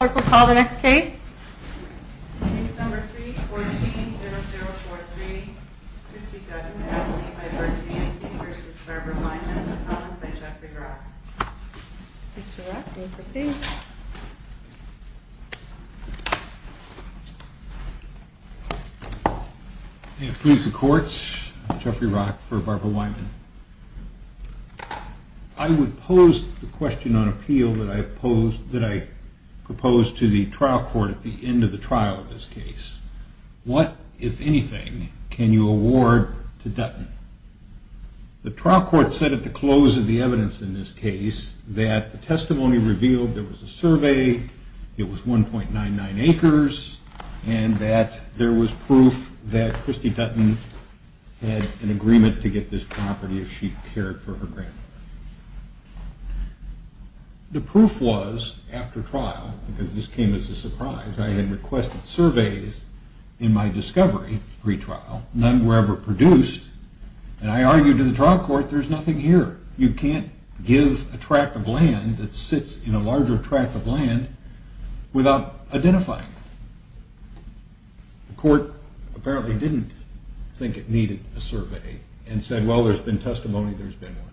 Clerk will call the next case. Case number 3-14-0043. Christy Dutton v. Wyman Appellant by Jeffrey Rock. Mr. Rock, you may proceed. Police and Courts. Jeffrey Rock for Barbara Wyman. I would pose the question on appeal that I proposed to the trial court at the end of the trial of this case. What, if anything, can you award to Dutton? The trial court said at the close of the evidence in this case that the testimony revealed there was a survey, it was 1.99 acres, and that there was proof that Christy Dutton had an agreement to get this property if she cared for her granddaughter. The proof was, after trial, because this came as a surprise, I had requested surveys in my discovery pre-trial, none were ever produced, and I argued to the trial court, there's nothing here. You can't give a tract of land that sits in a larger tract of land without identifying it. The court apparently didn't think it needed a survey and said, well, there's been testimony, there's been one.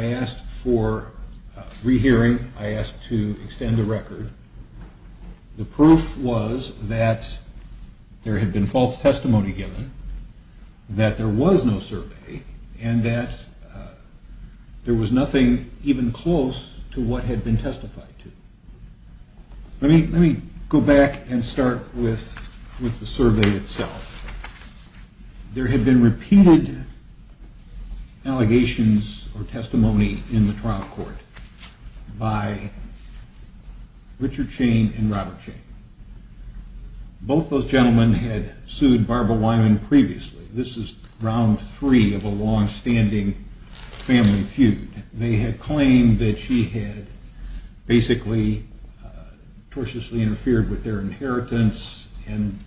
I asked for rehearing. I asked to extend the record. The proof was that there had been false testimony given, that there was no survey, and that there was nothing even close to what had been testified to. Let me go back and start with the survey itself. There had been repeated allegations or testimony in the trial court by Richard Chain and Robert Chain. Both those gentlemen had sued Barbara Wyman previously. This is round three of a long-standing family feud. They had claimed that she had basically tortiously interfered with their inheritance, and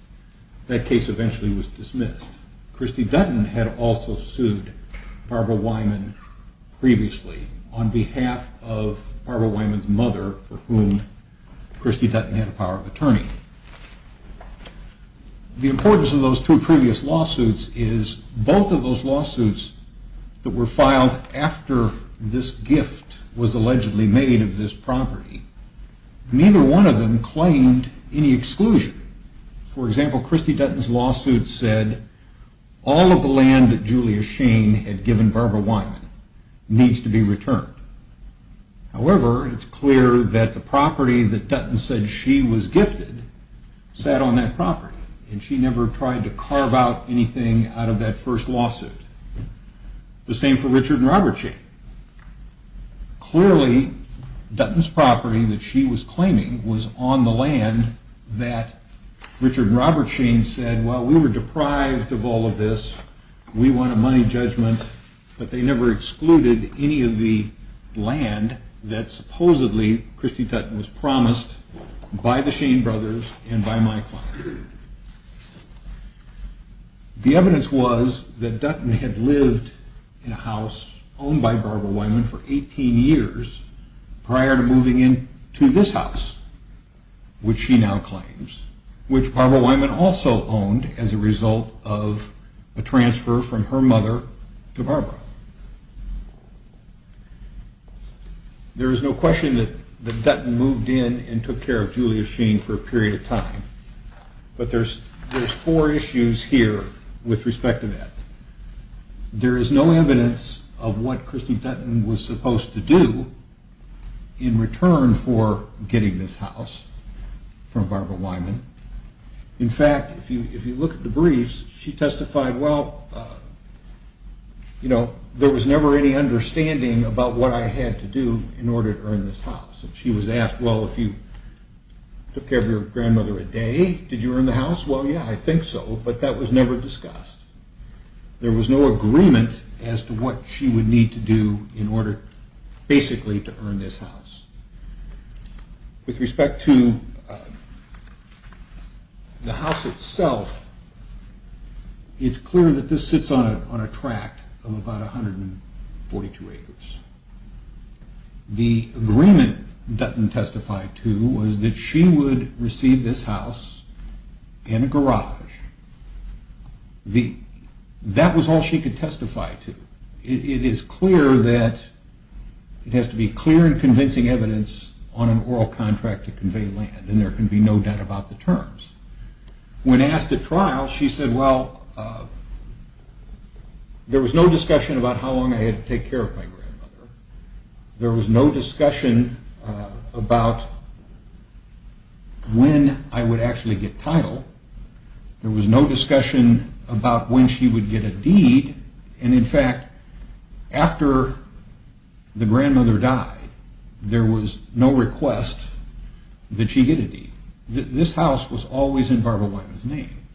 that case eventually was dismissed. Christy Dutton had also sued Barbara Wyman previously on behalf of Barbara Wyman's mother, for whom Christy Dutton had a power of attorney. The importance of those two previous lawsuits is both of those lawsuits that were filed after this gift was allegedly made of this property, neither one of them claimed any exclusion. For example, Christy Dutton's lawsuit said all of the land that Julia Shane had given Barbara Wyman needs to be returned. However, it's clear that the property that Dutton said she was gifted sat on that property, and she never tried to carve out anything out of that first lawsuit. The same for Richard and Robert Chain. Clearly, Dutton's property that she was claiming was on the land that Richard and Robert Chain said, well, we were deprived of all of this, we want a money judgment, but they never excluded any of the land that supposedly Christy Dutton was promised by the Shane brothers and by my client. The evidence was that Dutton had lived in a house owned by Barbara Wyman for 18 years prior to moving into this house, which she now claims, which Barbara Wyman also owned as a result of a transfer from her mother to Barbara. There is no question that Dutton moved in and took care of Julia Shane for a period of time, but there's four issues here with respect to that. There is no evidence of what Christy Dutton was supposed to do in return for getting this house from Barbara Wyman. In fact, if you look at the briefs, she testified, well, you know, there was never any understanding about what I had to do in order to earn this house. She was asked, well, if you took care of your grandmother a day, did you earn the house? Well, yeah, I think so, but that was never discussed. There was no agreement as to what she would need to do in order basically to earn this house. With respect to the house itself, it's clear that this sits on a tract of about 142 acres. The agreement Dutton testified to was that she would receive this house and a garage. That was all she could testify to. It is clear that it has to be clear and convincing evidence on an oral contract to convey land, and there can be no doubt about the terms. When asked at trial, she said, well, there was no discussion about how long I had to take care of my grandmother. There was no discussion about when I would actually get title. There was no discussion about when she would get a deed, and in fact, after the grandmother died, there was no request that she get a deed. This house was always in Barbara Wyman's name,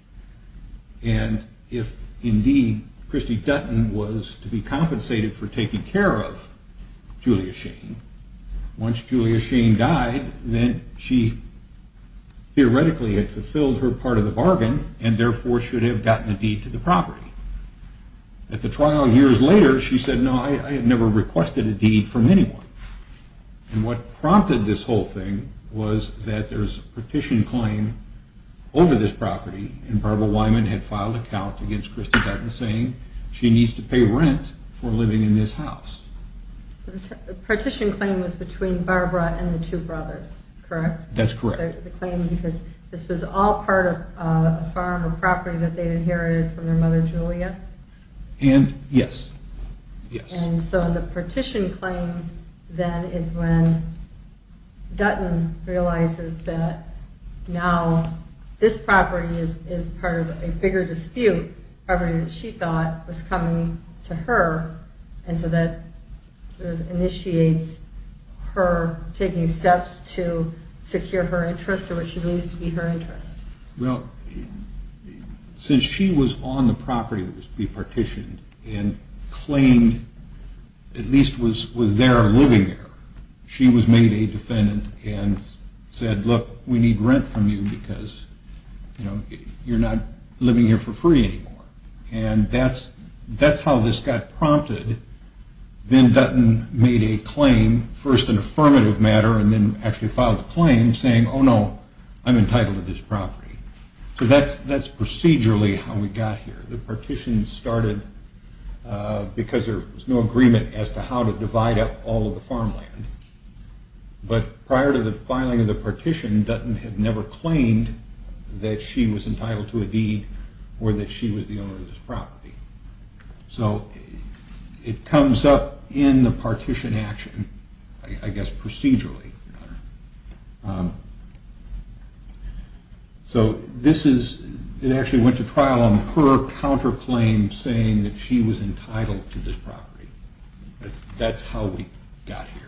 and if indeed Christy Dutton was to be compensated for taking care of Julia Shane, once Julia Shane died, then she theoretically had fulfilled her part of the bargain and therefore should have gotten a deed to the property. At the trial years later, she said, no, I had never requested a deed from anyone. And what prompted this whole thing was that there was a petition claim over this property, and Barbara Wyman had filed a count against Christy Dutton saying she needs to pay rent for living in this house. The petition claim was between Barbara and the two brothers, correct? That's correct. The claim because this was all part of a farm or property that they inherited from their mother, Julia? And, yes. And so the petition claim then is when Dutton realizes that now this property is part of a bigger dispute property that she thought was coming to her, and so that sort of initiates her taking steps to secure her interest or what she believes to be her interest. Well, since she was on the property that was to be partitioned and claimed at least was there or living there, she was made a defendant and said, look, we need rent from you because you're not living here for free anymore. And that's how this got prompted. Then Dutton made a claim, first an affirmative matter, and then actually filed a claim saying, oh, no, I'm entitled to this property. So that's procedurally how we got here. The partition started because there was no agreement as to how to divide up all of the farmland. But prior to the filing of the partition, Dutton had never claimed that she was entitled to a deed or that she was the owner of this property. So it comes up in the partition action, I guess procedurally. So it actually went to trial on her counterclaim saying that she was entitled to this property. That's how we got here.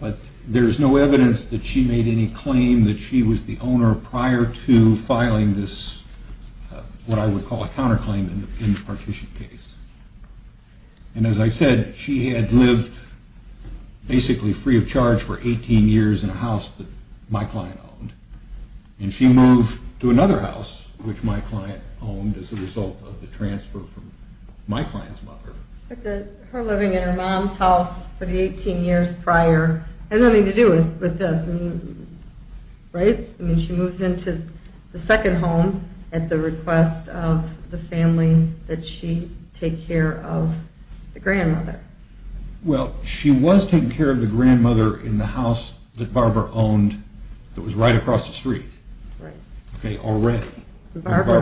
But there's no evidence that she made any claim that she was the owner prior to filing this, what I would call a counterclaim in the partition case. And as I said, she had lived basically free of charge for 18 years in a house that my client owned. And she moved to another house, which my client owned as a result of the transfer from my client's mother. Her living in her mom's house for the 18 years prior had nothing to do with this, right? I mean, she moves into the second home at the request of the family that she take care of the grandmother. Well, she was taking care of the grandmother in the house that Barbara owned that was right across the street. Right. Okay, already. Barbara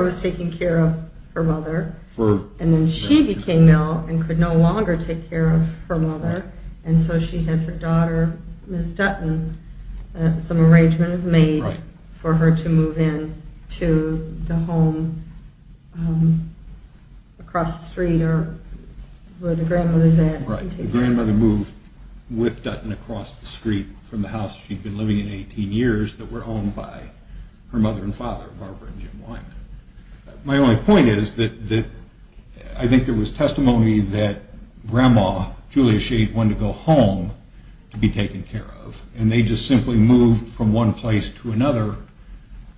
was taking care of her mother. And then she became ill and could no longer take care of her mother. And so she has her daughter, Miss Dutton, some arrangements made for her to move in to the home across the street where the grandmother's at. Right, the grandmother moved with Dutton across the street from the house she'd been living in 18 years My only point is that I think there was testimony that grandma, Julia Sheen, wanted to go home to be taken care of. And they just simply moved from one place to another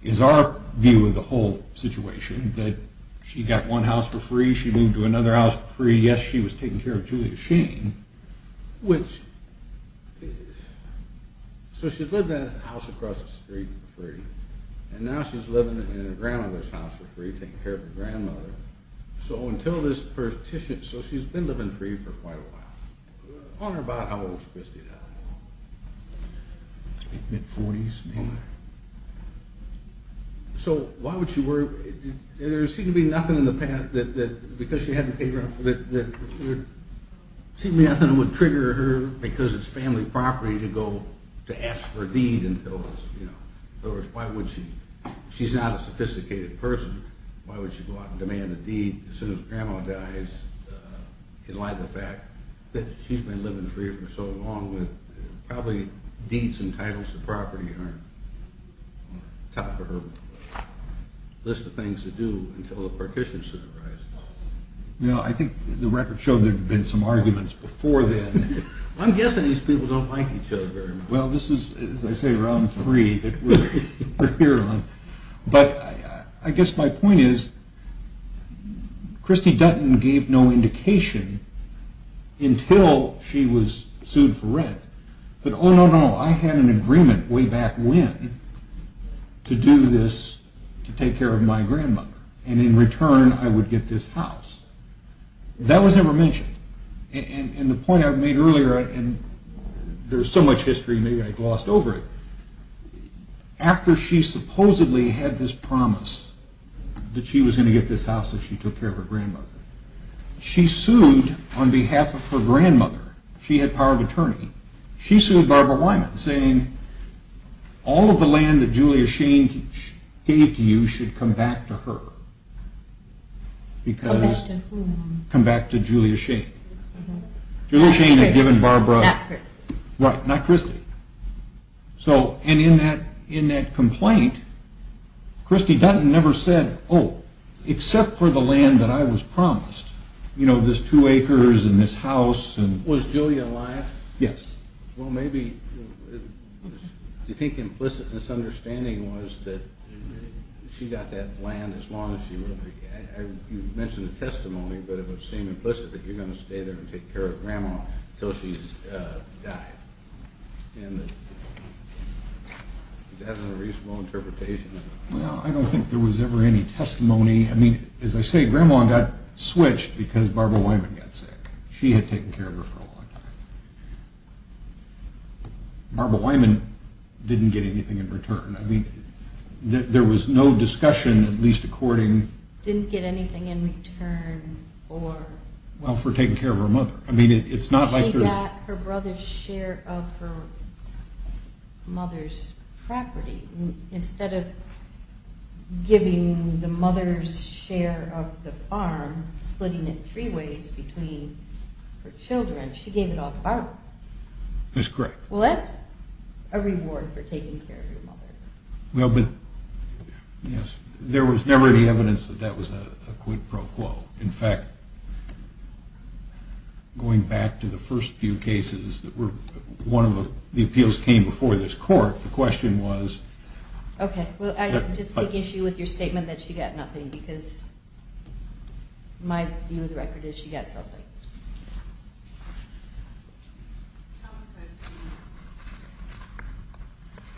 is our view of the whole situation, that she got one house for free, she moved to another house for free. Yes, she was taking care of Julia Sheen. Which, so she lived in a house across the street for free. And now she's living in her grandmother's house for free, taking care of her grandmother. So until this partition, so she's been living free for quite a while. I wonder about how old she must have been. I think mid-40s maybe. So why would she worry? There seemed to be nothing in the past that, because she hadn't paid rent, seemed to be nothing that would trigger her, because it's family property, to go to ask for a deed In other words, why would she? She's not a sophisticated person. Why would she go out and demand a deed as soon as grandma dies, in light of the fact that she's been living free for so long that probably deeds and titles to property aren't on top of her list of things to do until the partition soon arises. You know, I think the records show there have been some arguments before then. I'm guessing these people don't like each other very much. Well, this is, as I say, round three that we're here on. But I guess my point is, Christy Dutton gave no indication until she was sued for rent, that, oh, no, no, I had an agreement way back when to do this to take care of my grandmother, and in return I would get this house. That was never mentioned. And the point I made earlier, and there's so much history, maybe I glossed over it, after she supposedly had this promise that she was going to get this house that she took care of her grandmother, she sued on behalf of her grandmother. She had power of attorney. She sued Barbara Wyman, saying, all of the land that Julia Shane gave to you should come back to her. Because... Come back to who? Come back to Julia Shane. Julia Shane had given Barbara... Not Christy. Right, not Christy. So, and in that complaint, Christy Dutton never said, oh, except for the land that I was promised, you know, this two acres and this house and... Was Julia alive? Yes. Well, maybe... Do you think implicit misunderstanding was that she got that land as long as she... You mentioned the testimony, but it would seem implicit that you're going to stay there and take care of Grandma until she's died. And that's a reasonable interpretation. Well, I don't think there was ever any testimony. I mean, as I say, Grandma got switched because Barbara Wyman got sick. She had taken care of her for a long time. Barbara Wyman didn't get anything in return. I mean, there was no discussion, at least according... Well, for taking care of her mother. I mean, it's not like there's... She got her brother's share of her mother's property. Instead of giving the mother's share of the farm, splitting it three ways between her children, she gave it all to Barbara. That's correct. Well, that's a reward for taking care of your mother. Well, but, yes, there was never any evidence that that was a quid pro quo. In fact, going back to the first few cases, one of the appeals came before this court. The question was... Okay, well, I just take issue with your statement that she got nothing, because my view of the record is she got something.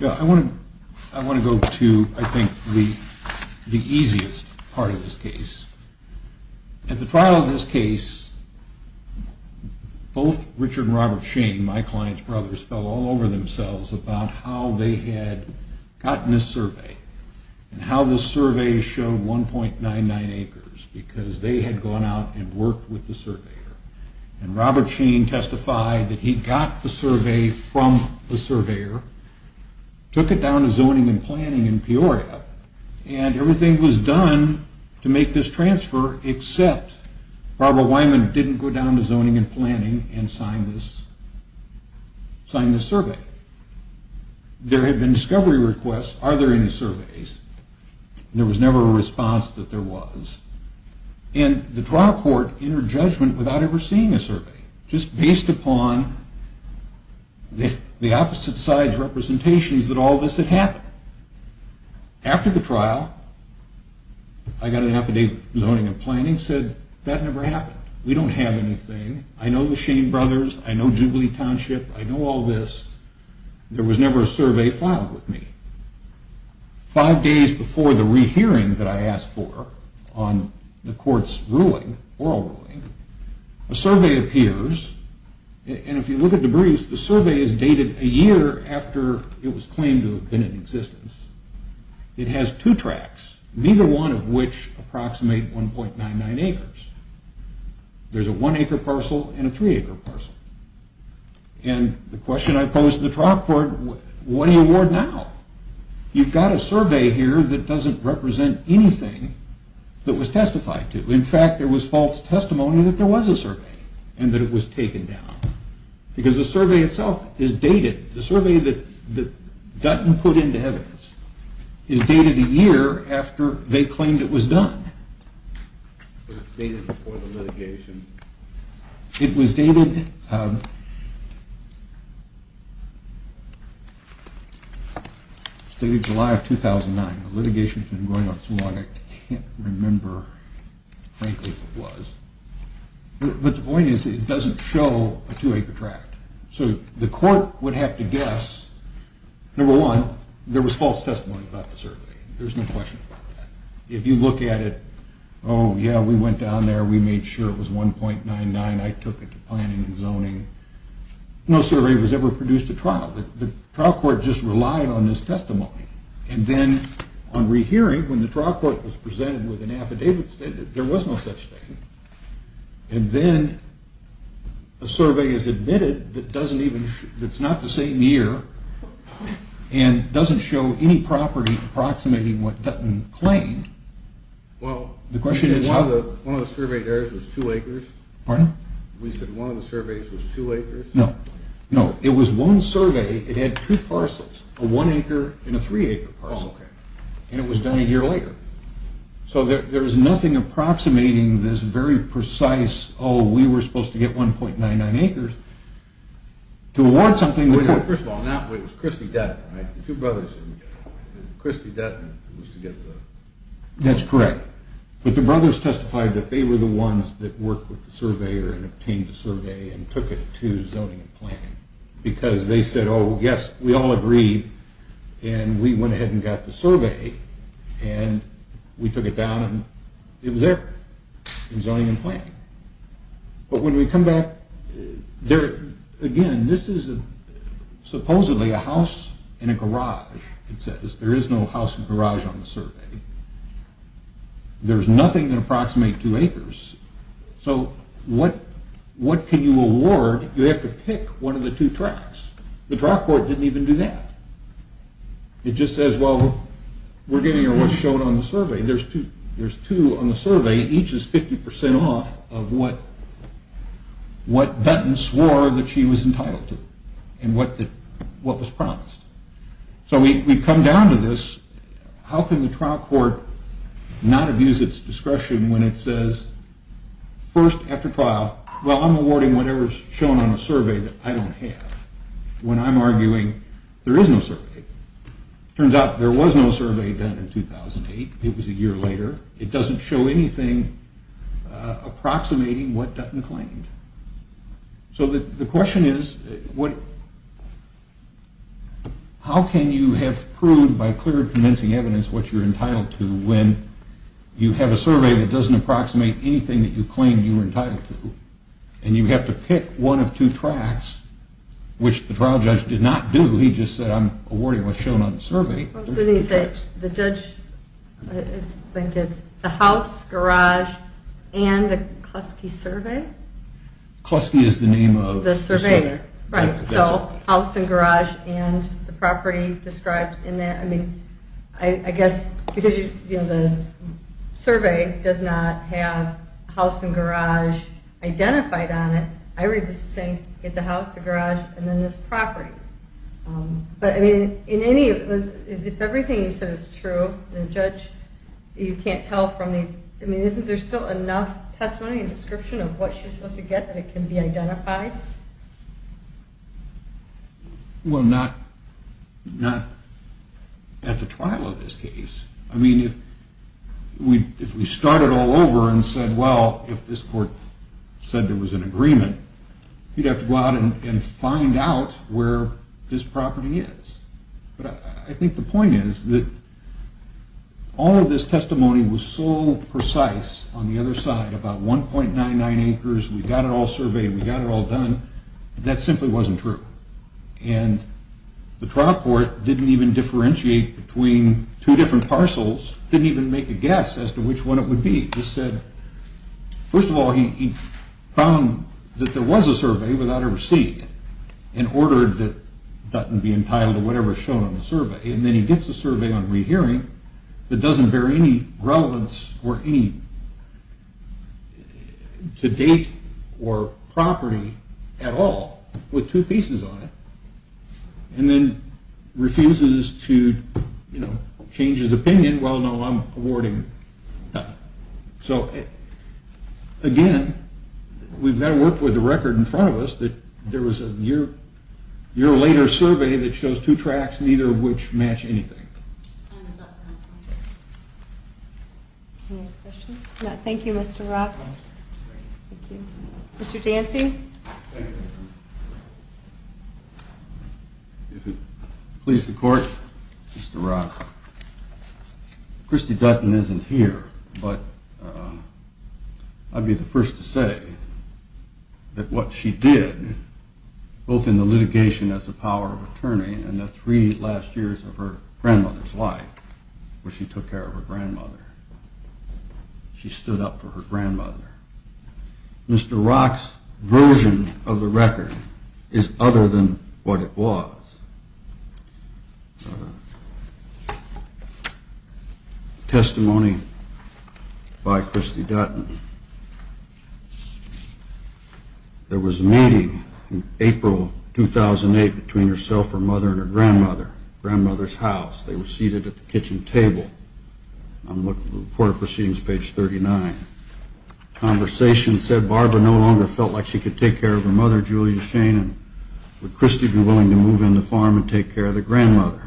Yeah, I want to go to, I think, the easiest part of this case. At the trial of this case, both Richard and Robert Shane, my client's brothers, fell all over themselves about how they had gotten this survey and how this survey showed 1.99 acres, because they had gone out and worked with the surveyor. And Robert Shane testified that he got the survey from the surveyor, took it down to zoning and planning in Peoria, and everything was done to make this transfer, except Barbara Wyman didn't go down to zoning and planning and sign this survey. There had been discovery requests, are there any surveys? There was never a response that there was. And the trial court entered judgment without ever seeing a survey, just based upon the opposite side's representations that all this had happened. After the trial, I got an affidavit from zoning and planning, said, that never happened, we don't have anything, I know the Shane brothers, I know Jubilee Township, I know all this, there was never a survey filed with me. Five days before the rehearing that I asked for on the court's ruling, oral ruling, a survey appears, and if you look at the briefs, the survey is dated a year after it was claimed to have been in existence. It has two tracts, neither one of which approximate 1.99 acres. There's a one acre parcel and a three acre parcel. And the question I posed to the trial court, what do you award now? You've got a survey here that doesn't represent anything that was testified to. In fact, there was false testimony that there was a survey and that it was taken down. Because the survey itself is dated, the survey that Dutton put into evidence, is dated a year after they claimed it was done. Was it dated before the litigation? It was dated July of 2009. The litigation's been going on so long, I can't remember, frankly, if it was. But the point is, it doesn't show a two acre tract. So the court would have to guess, number one, there was false testimony about the survey. There's no question about that. If you look at it, oh yeah, we went down there, we made sure it was 1.99, I took it to planning and zoning. No survey was ever produced at trial. The trial court just relied on this testimony. And then on rehearing, when the trial court was presented with an affidavit, there was no such thing. And then a survey is admitted that's not the same year and doesn't show any property approximating what Dutton claimed. Well, one of the survey areas was two acres. Pardon? We said one of the surveys was two acres. No, it was one survey. It had two parcels, a one acre and a three acre parcel. And it was done a year later. So there was nothing approximating this very precise, oh, we were supposed to get 1.99 acres. First of all, it was Christie Dutton, right? The two brothers. Christie Dutton was to get the... That's correct. But the brothers testified that they were the ones that worked with the surveyor and obtained the survey and took it to zoning and planning because they said, oh, yes, we all agree. And we went ahead and got the survey and we took it down and it was there in zoning and planning. But when we come back, again, this is supposedly a house in a garage. It says there is no house in a garage on the survey. There's nothing that approximates two acres. So what can you award? You have to pick one of the two tracts. The trial court didn't even do that. It just says, well, we're giving her what's shown on the survey. There's two on the survey. Each is 50% off of what Dutton swore that she was entitled to and what was promised. So we come down to this. How can the trial court not abuse its discretion when it says first after trial, well, I'm awarding whatever is shown on the survey that I don't have when I'm arguing there is no survey. It turns out there was no survey done in 2008. It was a year later. It doesn't show anything approximating what Dutton claimed. So the question is, how can you have proved by clear and convincing evidence what you're entitled to when you have a survey that doesn't approximate anything that you claim you were entitled to and you have to pick one of two tracts, which the trial judge did not do. He just said I'm awarding what's shown on the survey. The judge, I think it's the house, garage, and the Klusky survey. Klusky is the name of the survey. Right, so house and garage and the property described in that. I guess because the survey does not have house and garage identified on it, I read this as saying get the house, the garage, and then this property. But if everything you said is true, and the judge, you can't tell from these, isn't there still enough testimony and description of what you're supposed to get that it can be identified? Well, not at the trial of this case. I mean, if we started all over and said, well, if this court said there was an agreement, you'd have to go out and find out where this property is. But I think the point is that all of this testimony was so precise on the other side, about 1.99 acres, we got it all surveyed, we got it all done, that simply wasn't true. And the trial court didn't even differentiate between two different parcels, didn't even make a guess as to which one it would be. It just said, first of all, he found that there was a survey without a receipt and ordered that it be entitled to whatever is shown on the survey. And then he gets a survey on rehearing that doesn't bear any relevance or aim to date or property at all, with two pieces on it, and then refuses to change his opinion. Well, no, I'm awarding nothing. So, again, we've got to work with the record in front of us that there was a year-later survey that shows two tracks, neither of which match anything. Thank you, Mr. Rock. Mr. Dancy. If it pleases the court, Mr. Rock. Christy Dutton isn't here, but I'd be the first to say that what she did, both in the litigation as a power of attorney and the three last years of her grandmother's life, where she took care of her grandmother, she stood up for her grandmother. Mr. Rock's version of the record is other than what it was. Testimony by Christy Dutton. There was a meeting in April 2008 between herself, her mother, and her grandmother, grandmother's house. They were seated at the kitchen table. I'm looking at the report of proceedings, page 39. Conversation said Barbara no longer felt like she could take care of her mother, Julia Shane, and would Christy be willing to move in the farm and take care of the grandmother?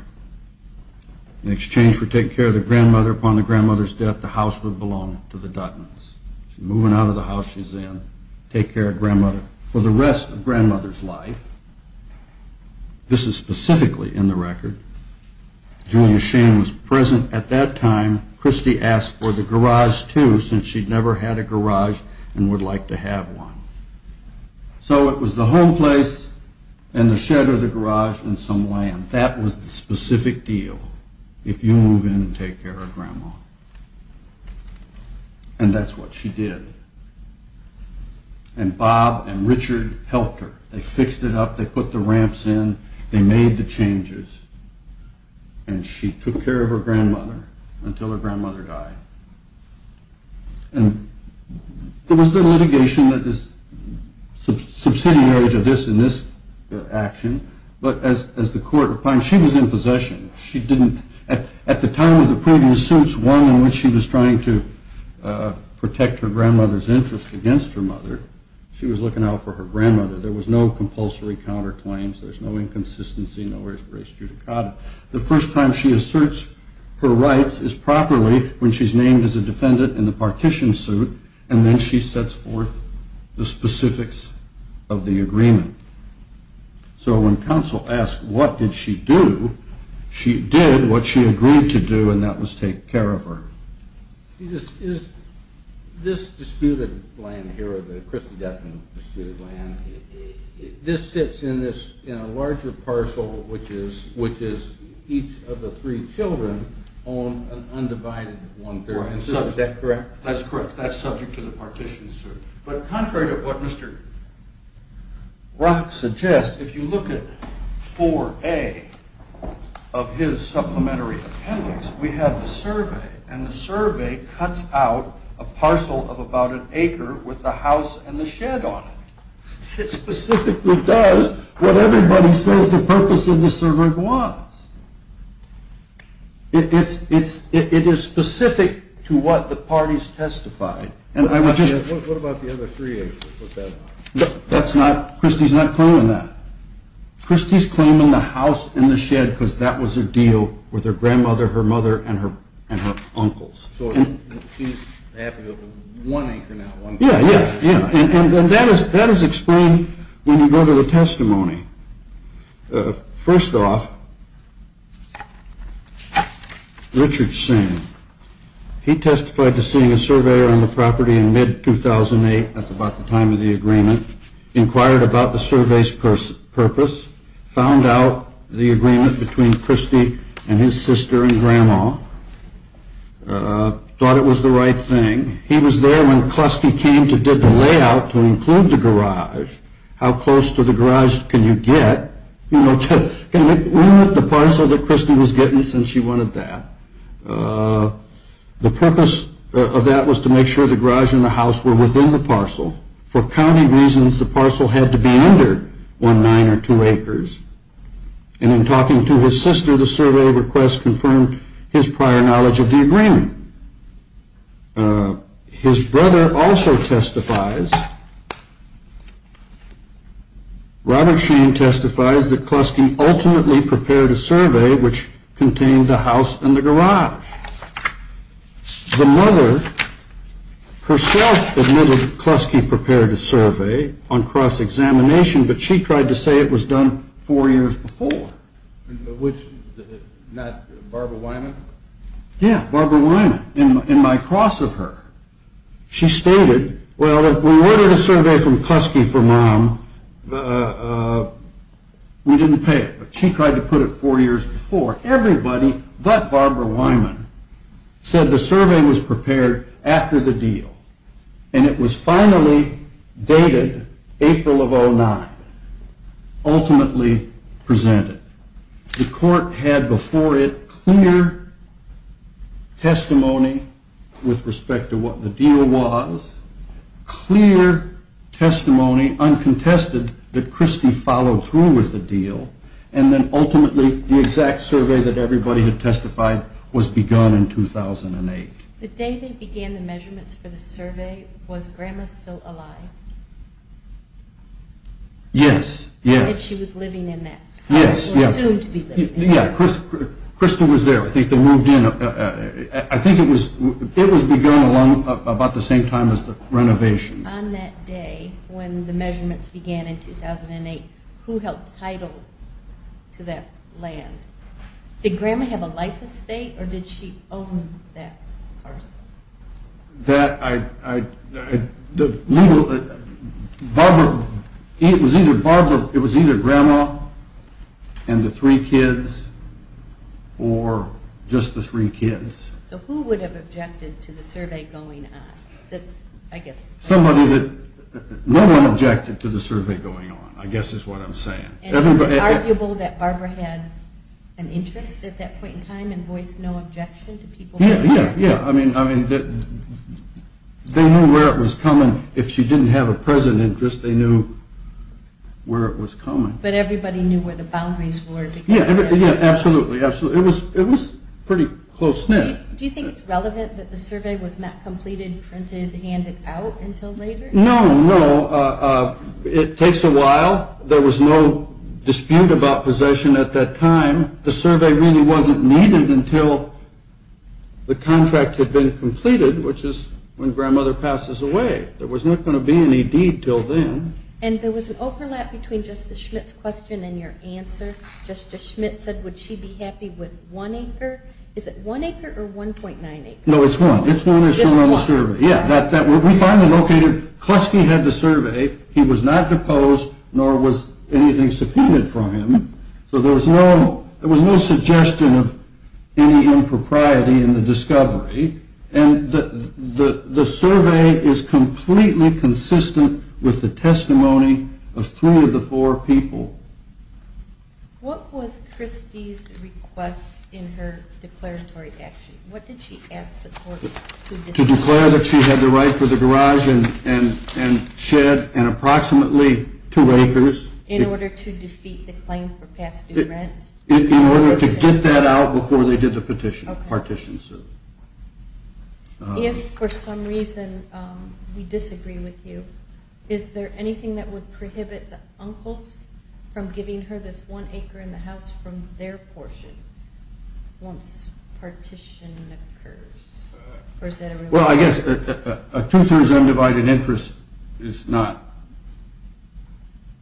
In exchange for taking care of the grandmother, upon the grandmother's death, the house would belong to the Duttons. She's moving out of the house she's in to take care of grandmother for the rest of grandmother's life. This is specifically in the record. Julia Shane was present at that time. Christy asked for the garage, too, since she'd never had a garage and would like to have one. So it was the home place and the shed of the garage and some land. And that was the specific deal, if you move in and take care of grandma. And that's what she did. And Bob and Richard helped her. They fixed it up. They put the ramps in. They made the changes. And she took care of her grandmother until her grandmother died. And there was the litigation that is subsidiary to this in this action. But as the court opined, she was in possession. She didn't, at the time of the previous suits, one in which she was trying to protect her grandmother's interest against her mother, she was looking out for her grandmother. There was no compulsory counterclaims. There's no inconsistency. Nowhere is race judicata. The first time she asserts her rights is properly when she's named as a defendant in the partition suit, and then she sets forth the specifics of the agreement. So when counsel asked what did she do, she did what she agreed to do, and that was take care of her. This disputed land here, the Christendom disputed land, this sits in a larger parcel which is each of the three children on an undivided one-third. Is that correct? That's correct. That's subject to the partition suit. But contrary to what Mr. Rock suggests, if you look at 4A of his supplementary appendix, we have the survey, and the survey cuts out a parcel of about an acre with the house and the shed on it. It specifically does what everybody says the purpose of the survey was. It is specific to what the parties testified. What about the other three acres? Christie's not claiming that. So she's happy with one acre now. Yeah, yeah, yeah. And that is explained when you go to the testimony. First off, Richard Singh, he testified to seeing a surveyor on the property in mid-2008, that's about the time of the agreement, inquired about the survey's purpose, found out the agreement between Christie and his sister and grandma, thought it was the right thing. He was there when Kluski came to get the layout to include the garage. How close to the garage can you get? You know, look at the parcel that Christie was getting since she wanted that. The purpose of that was to make sure the garage and the house were within the parcel. For county reasons, the parcel had to be under one, nine, or two acres. And in talking to his sister, the survey request confirmed his prior knowledge of the agreement. His brother also testifies. Robert Sheen testifies that Kluski ultimately prepared a survey which contained the house and the garage. The mother herself admitted Kluski prepared a survey on cross-examination, but she tried to say it was done four years before. Which, not Barbara Wyman? Yeah, Barbara Wyman, in my cross of her. She stated, well, if we ordered a survey from Kluski for mom, we didn't pay it. She tried to put it four years before. Everybody but Barbara Wyman said the survey was prepared after the deal. And it was finally dated April of 2009, ultimately presented. The court had before it clear testimony with respect to what the deal was, clear testimony, uncontested, that Kluski followed through with the deal, and then ultimately the exact survey that everybody had testified was begun in 2008. The day they began the measurements for the survey, was grandma still alive? Yes, yes. And she was living in that, or assumed to be living in that. Yeah, Kluski was there. I think they moved in. I think it was begun about the same time as the renovations. On that day, when the measurements began in 2008, who held title to that land? Did grandma have a life estate, or did she own that parcel? That, I, the legal, Barbara, it was either grandma and the three kids, or just the three kids. So who would have objected to the survey going on? That's, I guess. Somebody that, no one objected to the survey going on, I guess is what I'm saying. And is it arguable that Barbara had an interest at that point in time and voiced no objection to people? Yeah, yeah, yeah. I mean, they knew where it was coming. If she didn't have a present interest, they knew where it was coming. But everybody knew where the boundaries were. Yeah, absolutely, absolutely. It was pretty close knit. Do you think it's relevant that the survey was not completed, printed, handed out until later? No, no. It takes a while. There was no dispute about possession at that time. The survey really wasn't needed until the contract had been completed, which is when grandmother passes away. There was not going to be any deed until then. And there was an overlap between Justice Schmitt's question and your answer. Justice Schmitt said, would she be happy with one acre? Is it one acre or 1.9 acres? No, it's one. It's one, as shown on the survey. Just one? Yeah. We finally located, Kleski had the survey. He was not deposed, nor was anything subpoenaed for him. So there was no suggestion of any impropriety in the discovery. And the survey is completely consistent with the testimony of three of the four people. What was Kleski's request in her declaratory action? What did she ask the court to decide? To declare that she had the right for the garage and shed and approximately two acres. In order to defeat the claim for past due rent? In order to get that out before they did the petition, partition. If, for some reason, we disagree with you, is there anything that would prohibit the uncles from giving her this one acre in the house from their portion once partition occurs? Well, I guess a two-thirds undivided interest is not.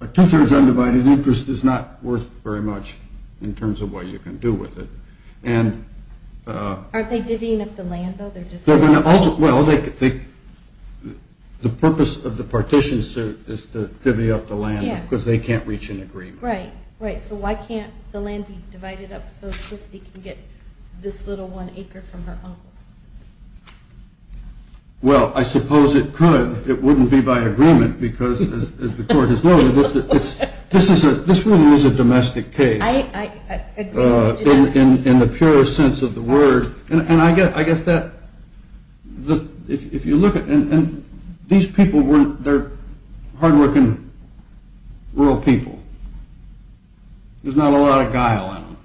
A two-thirds undivided interest is not worth very much in terms of what you can do with it. Aren't they divvying up the land, though? Well, the purpose of the partition is to divvy up the land because they can't reach an agreement. Right. So why can't the land be divided up so Kleski can get this little one acre from her uncles? Well, I suppose it could. It wouldn't be by agreement because, as the court has noted, this really is a domestic case. I agree. In the purest sense of the word. And I guess that if you look at these people, they're hard-working rural people. There's not a lot of guile in them.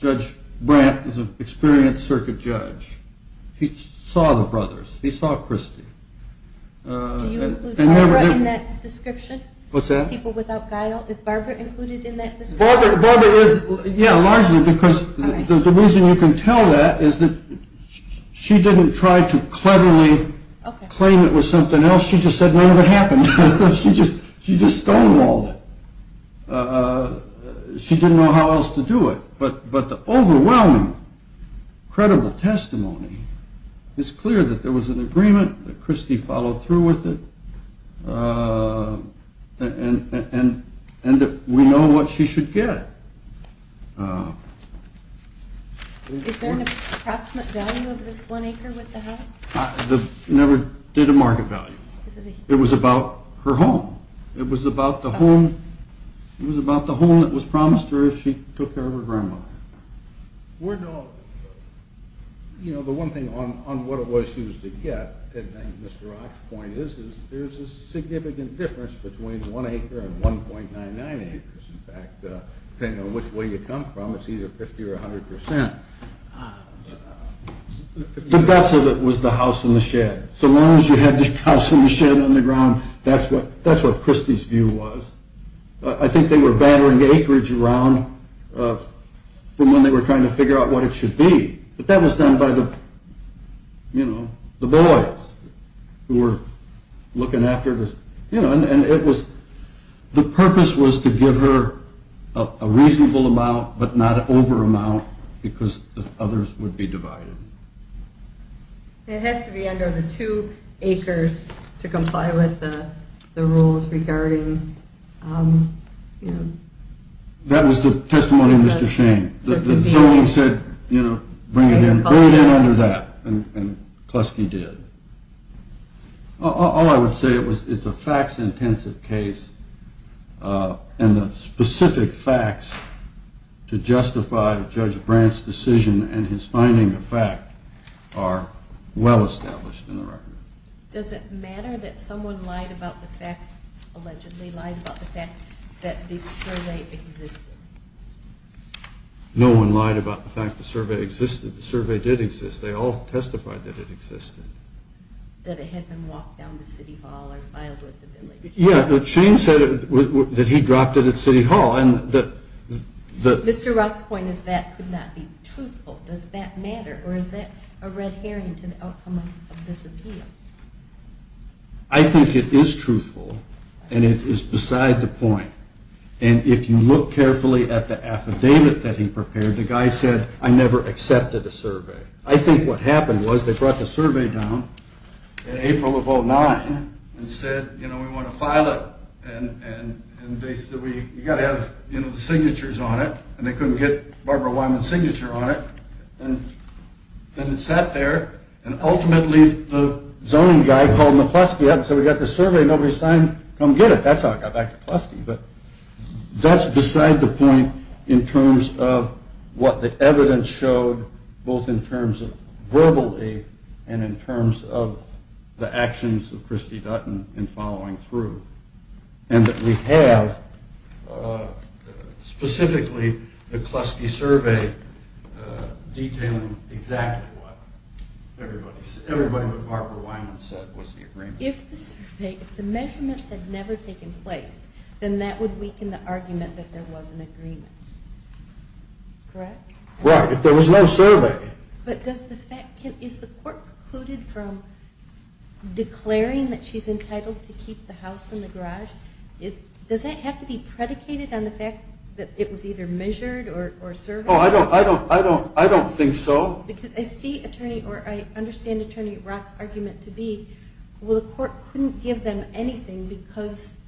Judge Brandt is an experienced circuit judge. He saw the brothers. He saw Christie. Do you include Barbara in that description? What's that? People without guile. Is Barbara included in that description? Yeah, largely because the reason you can tell that is that she didn't try to cleverly claim it was something else. She just said none of it happened. She just stonewalled it. She didn't know how else to do it. But the overwhelming, credible testimony is clear that there was an agreement, that Christie followed through with it, and that we know what she should get. Is there an approximate value of this one acre with the house? Never did a market value. It was about her home. It was about the home that was promised to her if she took care of her grandmother. The one thing on what it was she was to get, and Mr. Rock's point is, is there's a significant difference between one acre and 1.99 acres. In fact, depending on which way you come from, it's either 50% or 100%. The guts of it was the house and the shed. So long as you have the house and the shed on the ground, that's what Christie's view was. I think they were battering the acreage around from when they were trying to figure out what it should be. But that was done by the boys who were looking after this. And the purpose was to give her a reasonable amount, but not an over amount, because the others would be divided. It has to be under the two acres to comply with the rules regarding... That was the testimony of Mr. Shane. The zoning said, you know, bring it in under that, and Kleski did. All I would say, it's a facts-intensive case, and the specific facts to justify Judge Brandt's decision and his finding of fact are well established in the record. Does it matter that someone lied about the fact, allegedly lied about the fact that the survey existed? No one lied about the fact the survey existed. The survey did exist. They all testified that it existed. That it had been walked down the city hall or filed with the village? Yeah, Shane said that he dropped it at city hall. Mr. Rock's point is that could not be truthful. Does that matter, or is that a red herring to the outcome of this appeal? I think it is truthful, and it is beside the point. And if you look carefully at the affidavit that he prepared, the guy said, I never accepted a survey. I think what happened was they brought the survey down in April of 2009, and said, you know, we want to file it, and they said, you've got to have the signatures on it, and they couldn't get Barbara Wyman's signature on it. And then it sat there, and ultimately the zoning guy called McKleski up and said, we've got this survey nobody signed, come get it. That's how it got back to Kleski. But that's beside the point in terms of what the evidence showed, both in terms of verbally and in terms of the actions of Christy Dutton in following through. And that we have specifically the Kleski survey detailing exactly what everybody, everybody but Barbara Wyman said was the agreement. If the survey, if the measurements had never taken place, then that would weaken the argument that there was an agreement. Correct? Right. If there was no survey. But does the fact, is the court precluded from declaring that she's entitled to keep the house and the garage? Does that have to be predicated on the fact that it was either measured or surveyed? Oh, I don't, I don't, I don't think so. Because I see Attorney, or I understand Attorney Rock's argument to be, well the court couldn't give them anything because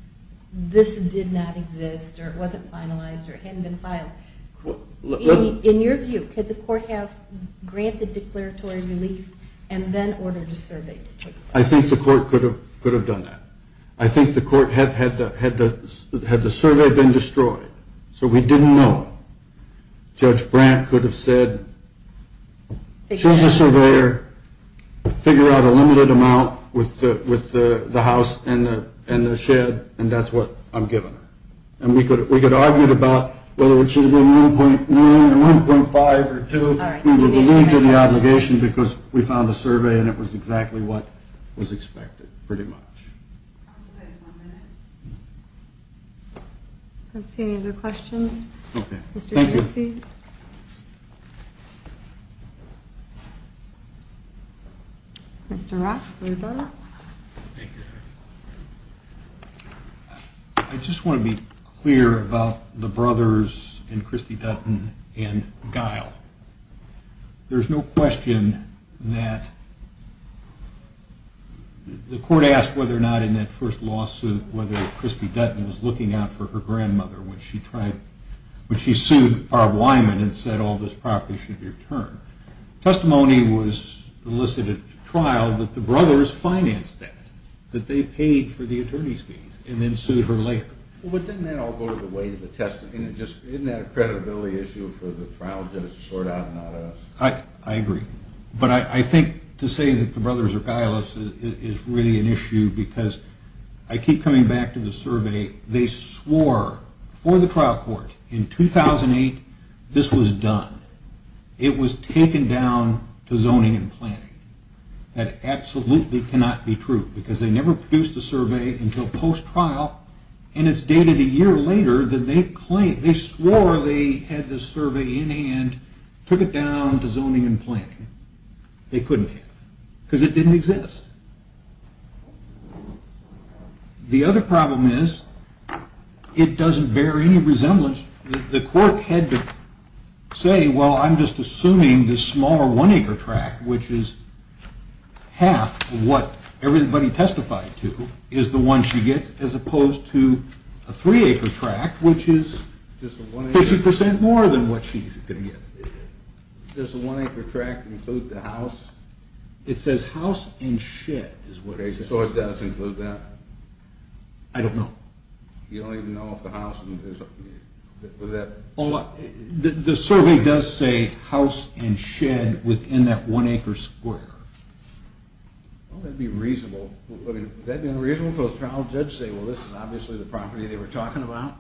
this did not exist, or it wasn't finalized, or it hadn't been filed. In your view, could the court have granted declaratory relief and then ordered a survey to take place? I think the court could have done that. I think the court had the survey been destroyed, so we didn't know. Judge Brandt could have said, she's a surveyor, figure out a limited amount with the house and the shed, and that's what I'm giving her. And we could have argued about whether it should have been 1.1 or 1.5 or 2. We would have believed in the obligation because we found the survey and it was exactly what was expected, pretty much. I'll give you guys one minute. I don't see any other questions. Okay, thank you. Mr. Rock, will you join us? Thank you. I just want to be clear about the brothers and Christy Dutton and Guile. There's no question that the court asked whether or not in that first lawsuit whether Christy Dutton was looking out for her grandmother when she sued Bob Wyman and said all this property should be returned. Testimony was elicited at trial that the brothers financed that, that they paid for the attorney's fees and then sued her later. But didn't that all go the way of the testimony? Isn't that a credibility issue for the trial judge to sort out and not us? I agree. But I think to say that the brothers are guileless is really an issue because I keep coming back to the survey. They swore for the trial court in 2008 this was done. It was taken down to zoning and planning. That absolutely cannot be true because they never produced a survey until post-trial and it's dated a year later than they claimed. They swore they had the survey in hand, took it down to zoning and planning. They couldn't have because it didn't exist. The other problem is it doesn't bear any resemblance. The court had to say, well, I'm just assuming this smaller one-acre tract, which is half what everybody testified to is the one she gets as opposed to a three-acre tract, which is 50% more than what she's going to get. Does the one-acre tract include the house? It says house and shed is what it says. So it does include that? I don't know. You don't even know if the house and the shed? The survey does say house and shed within that one-acre square. Well, that would be reasonable. Would that be reasonable for a trial judge to say, well, this is obviously the property they were talking about?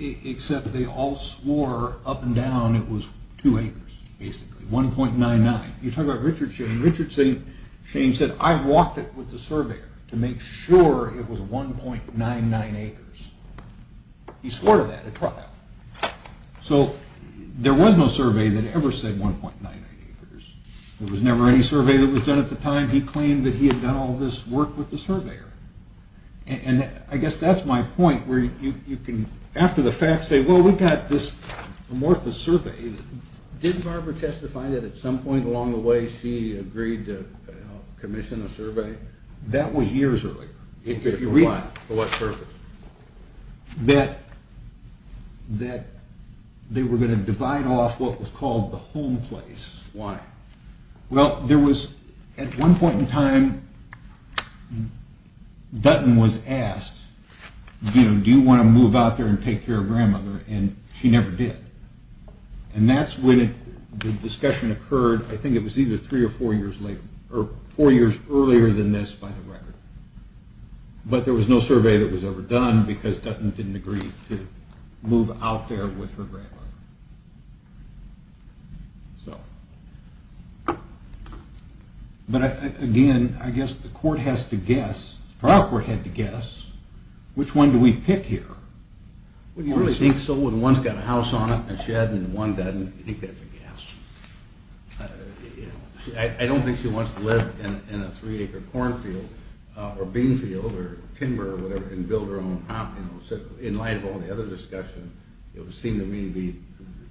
Except they all swore up and down it was two acres, basically, 1.99. You talk about Richard Shane. Richard Shane said, I walked it with the surveyor to make sure it was 1.99 acres. He swore to that at trial. So there was no survey that ever said 1.99 acres. There was never any survey that was done at the time. He claimed that he had done all this work with the surveyor. I guess that's my point where you can, after the fact, say, well, we've got this amorphous survey. Didn't Barbara testify that at some point along the way she agreed to commission a survey? That was years earlier. For what purpose? That they were going to divide off what was called the home place. Why? Well, there was, at one point in time, Dutton was asked, do you want to move out there and take care of grandmother? And she never did. And that's when the discussion occurred, I think it was either three or four years later, or four years earlier than this by the record. But there was no survey that was ever done because Dutton didn't agree to move out there with her grandmother. So. But, again, I guess the court has to guess, the trial court had to guess, which one do we pick here? Well, you really think so when one's got a house on it and a shed and one doesn't? I think that's a guess. I don't think she wants to live in a three-acre cornfield or bean field or timber or whatever and build her own house. In light of all the other discussion, it would seem to me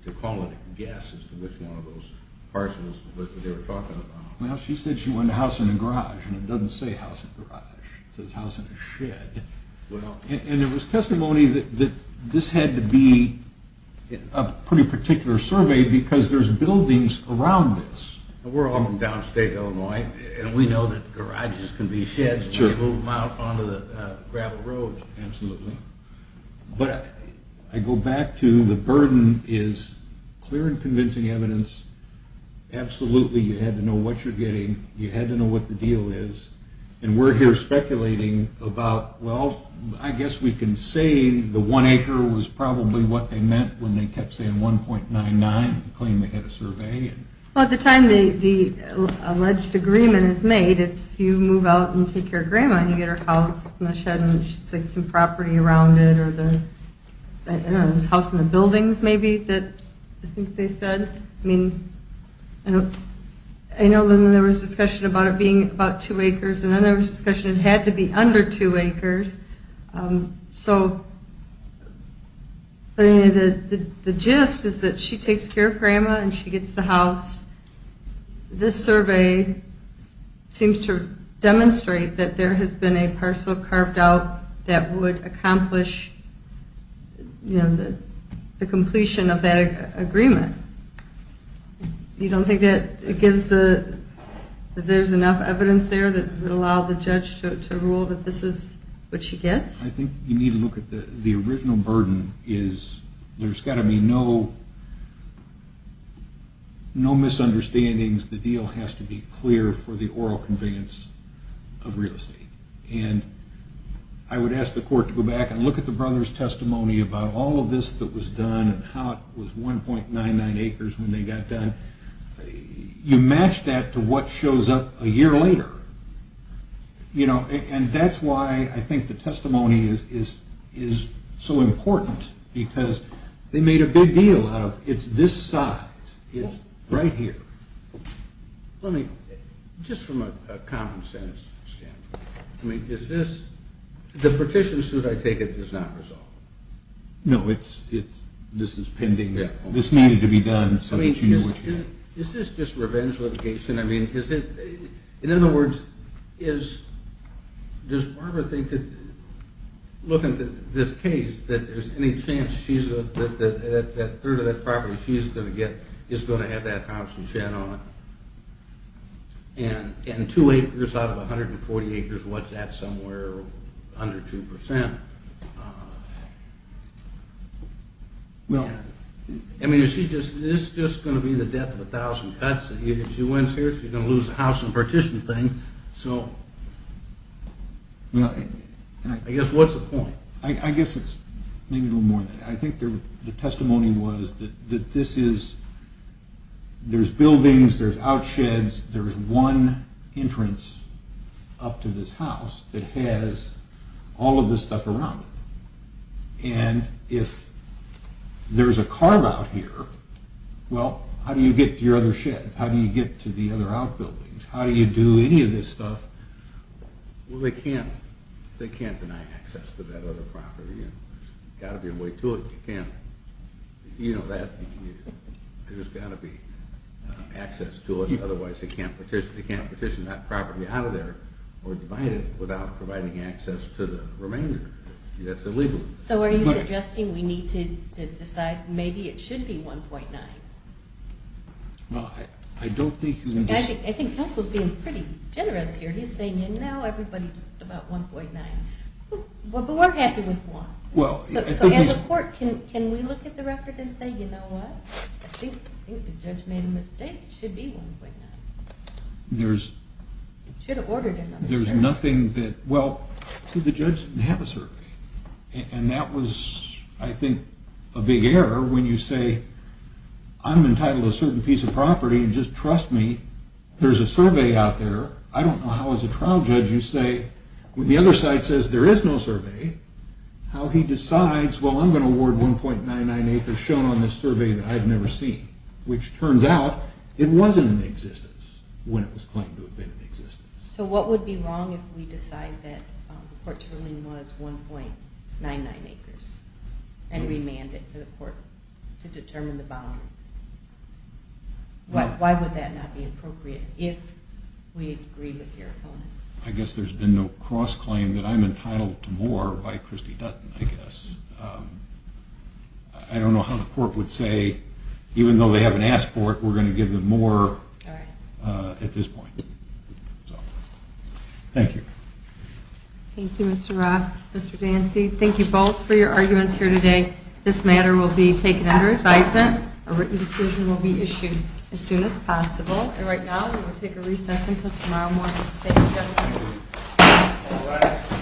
to call it a guess as to which one of those parcels they were talking about. Well, she said she wanted a house in a garage, and it doesn't say house in a garage. It says house in a shed. And there was testimony that this had to be a pretty particular survey because there's buildings around this. We're all from downstate Illinois, and we know that garages can be sheds and they move them out onto the gravel roads. Absolutely. But I go back to the burden is clear and convincing evidence. Absolutely you had to know what you're getting. You had to know what the deal is. And we're here speculating about, well, I guess we can say the one acre was probably what they meant when they kept saying 1.99 and claimed they had a survey. Well, at the time the alleged agreement is made, it's you move out and take care of Grandma and you get her house in the shed, and she takes some property around it, or the house in the buildings maybe that I think they said. I know then there was discussion about it being about two acres, and then there was discussion it had to be under two acres. So the gist is that she takes care of Grandma and she gets the house. This survey seems to demonstrate that there has been a parcel carved out that would accomplish the completion of that agreement. You don't think that there's enough evidence there that would allow the judge to rule that this is what she gets? I think you need to look at the original burden. There's got to be no misunderstandings. The deal has to be clear for the oral convenience of real estate. I would ask the court to go back and look at the brother's testimony about all of this that was done and how it was 1.99 acres when they got done. You match that to what shows up a year later. That's why I think the testimony is so important because they made a big deal out of it's this size. It's right here. Just from a common-sense standpoint, the petition, should I take it, is not resolved? No, this is pending. This needed to be done so that you knew what you had. Is this just revenge litigation? In other words, does Barbara think, looking at this case, that there's any chance that a third of that property she's going to get is going to have that house and shed on it? And two acres out of 140 acres, what's that somewhere under 2%? Is this just going to be the death of a thousand cuts? If she wins here, she's going to lose the house and petition thing. I guess what's the point? I guess it's maybe a little more than that. I think the testimony was that there's buildings, there's outsheds, there's one entrance up to this house that has all of this stuff around it. And if there's a carve-out here, well, how do you get to your other shed? How do you get to the other outbuildings? How do you do any of this stuff? Well, they can't deny access to that other property. There's got to be a way to it. You know that. There's got to be access to it, otherwise they can't petition that property out of there or divide it without providing access to the remainder. That's illegal. So are you suggesting we need to decide maybe it should be 1.9? Well, I don't think we need to. I think Counsel's being pretty generous here. He's saying, you know, everybody talked about 1.9. But we're happy with 1. So as a court, can we look at the record and say, you know what? I think the judge made a mistake. It should be 1.9. It should have ordered another survey. Well, the judge didn't have a survey. And that was, I think, a big error when you say, I'm entitled to a certain piece of property and just trust me. There's a survey out there. I don't know how as a trial judge you say, when the other side says there is no survey, how he decides, well, I'm going to award 1.99 acres shown on this survey that I've never seen, which turns out it wasn't in existence when it was claimed to have been in existence. So what would be wrong if we decide that the court's ruling was 1.99 acres and remanded for the court to determine the boundaries? Why would that not be appropriate if we agree with your opponent? I guess there's been no cross-claim that I'm entitled to more by Christy Dutton, I guess. I don't know how the court would say, even though they haven't asked for it, we're going to give them more at this point. Thank you. Thank you, Mr. Roth. Mr. Dancy, thank you both for your arguments here today. This matter will be taken under advisement. A written decision will be issued as soon as possible. And right now we will take a recess until tomorrow morning. Thank you.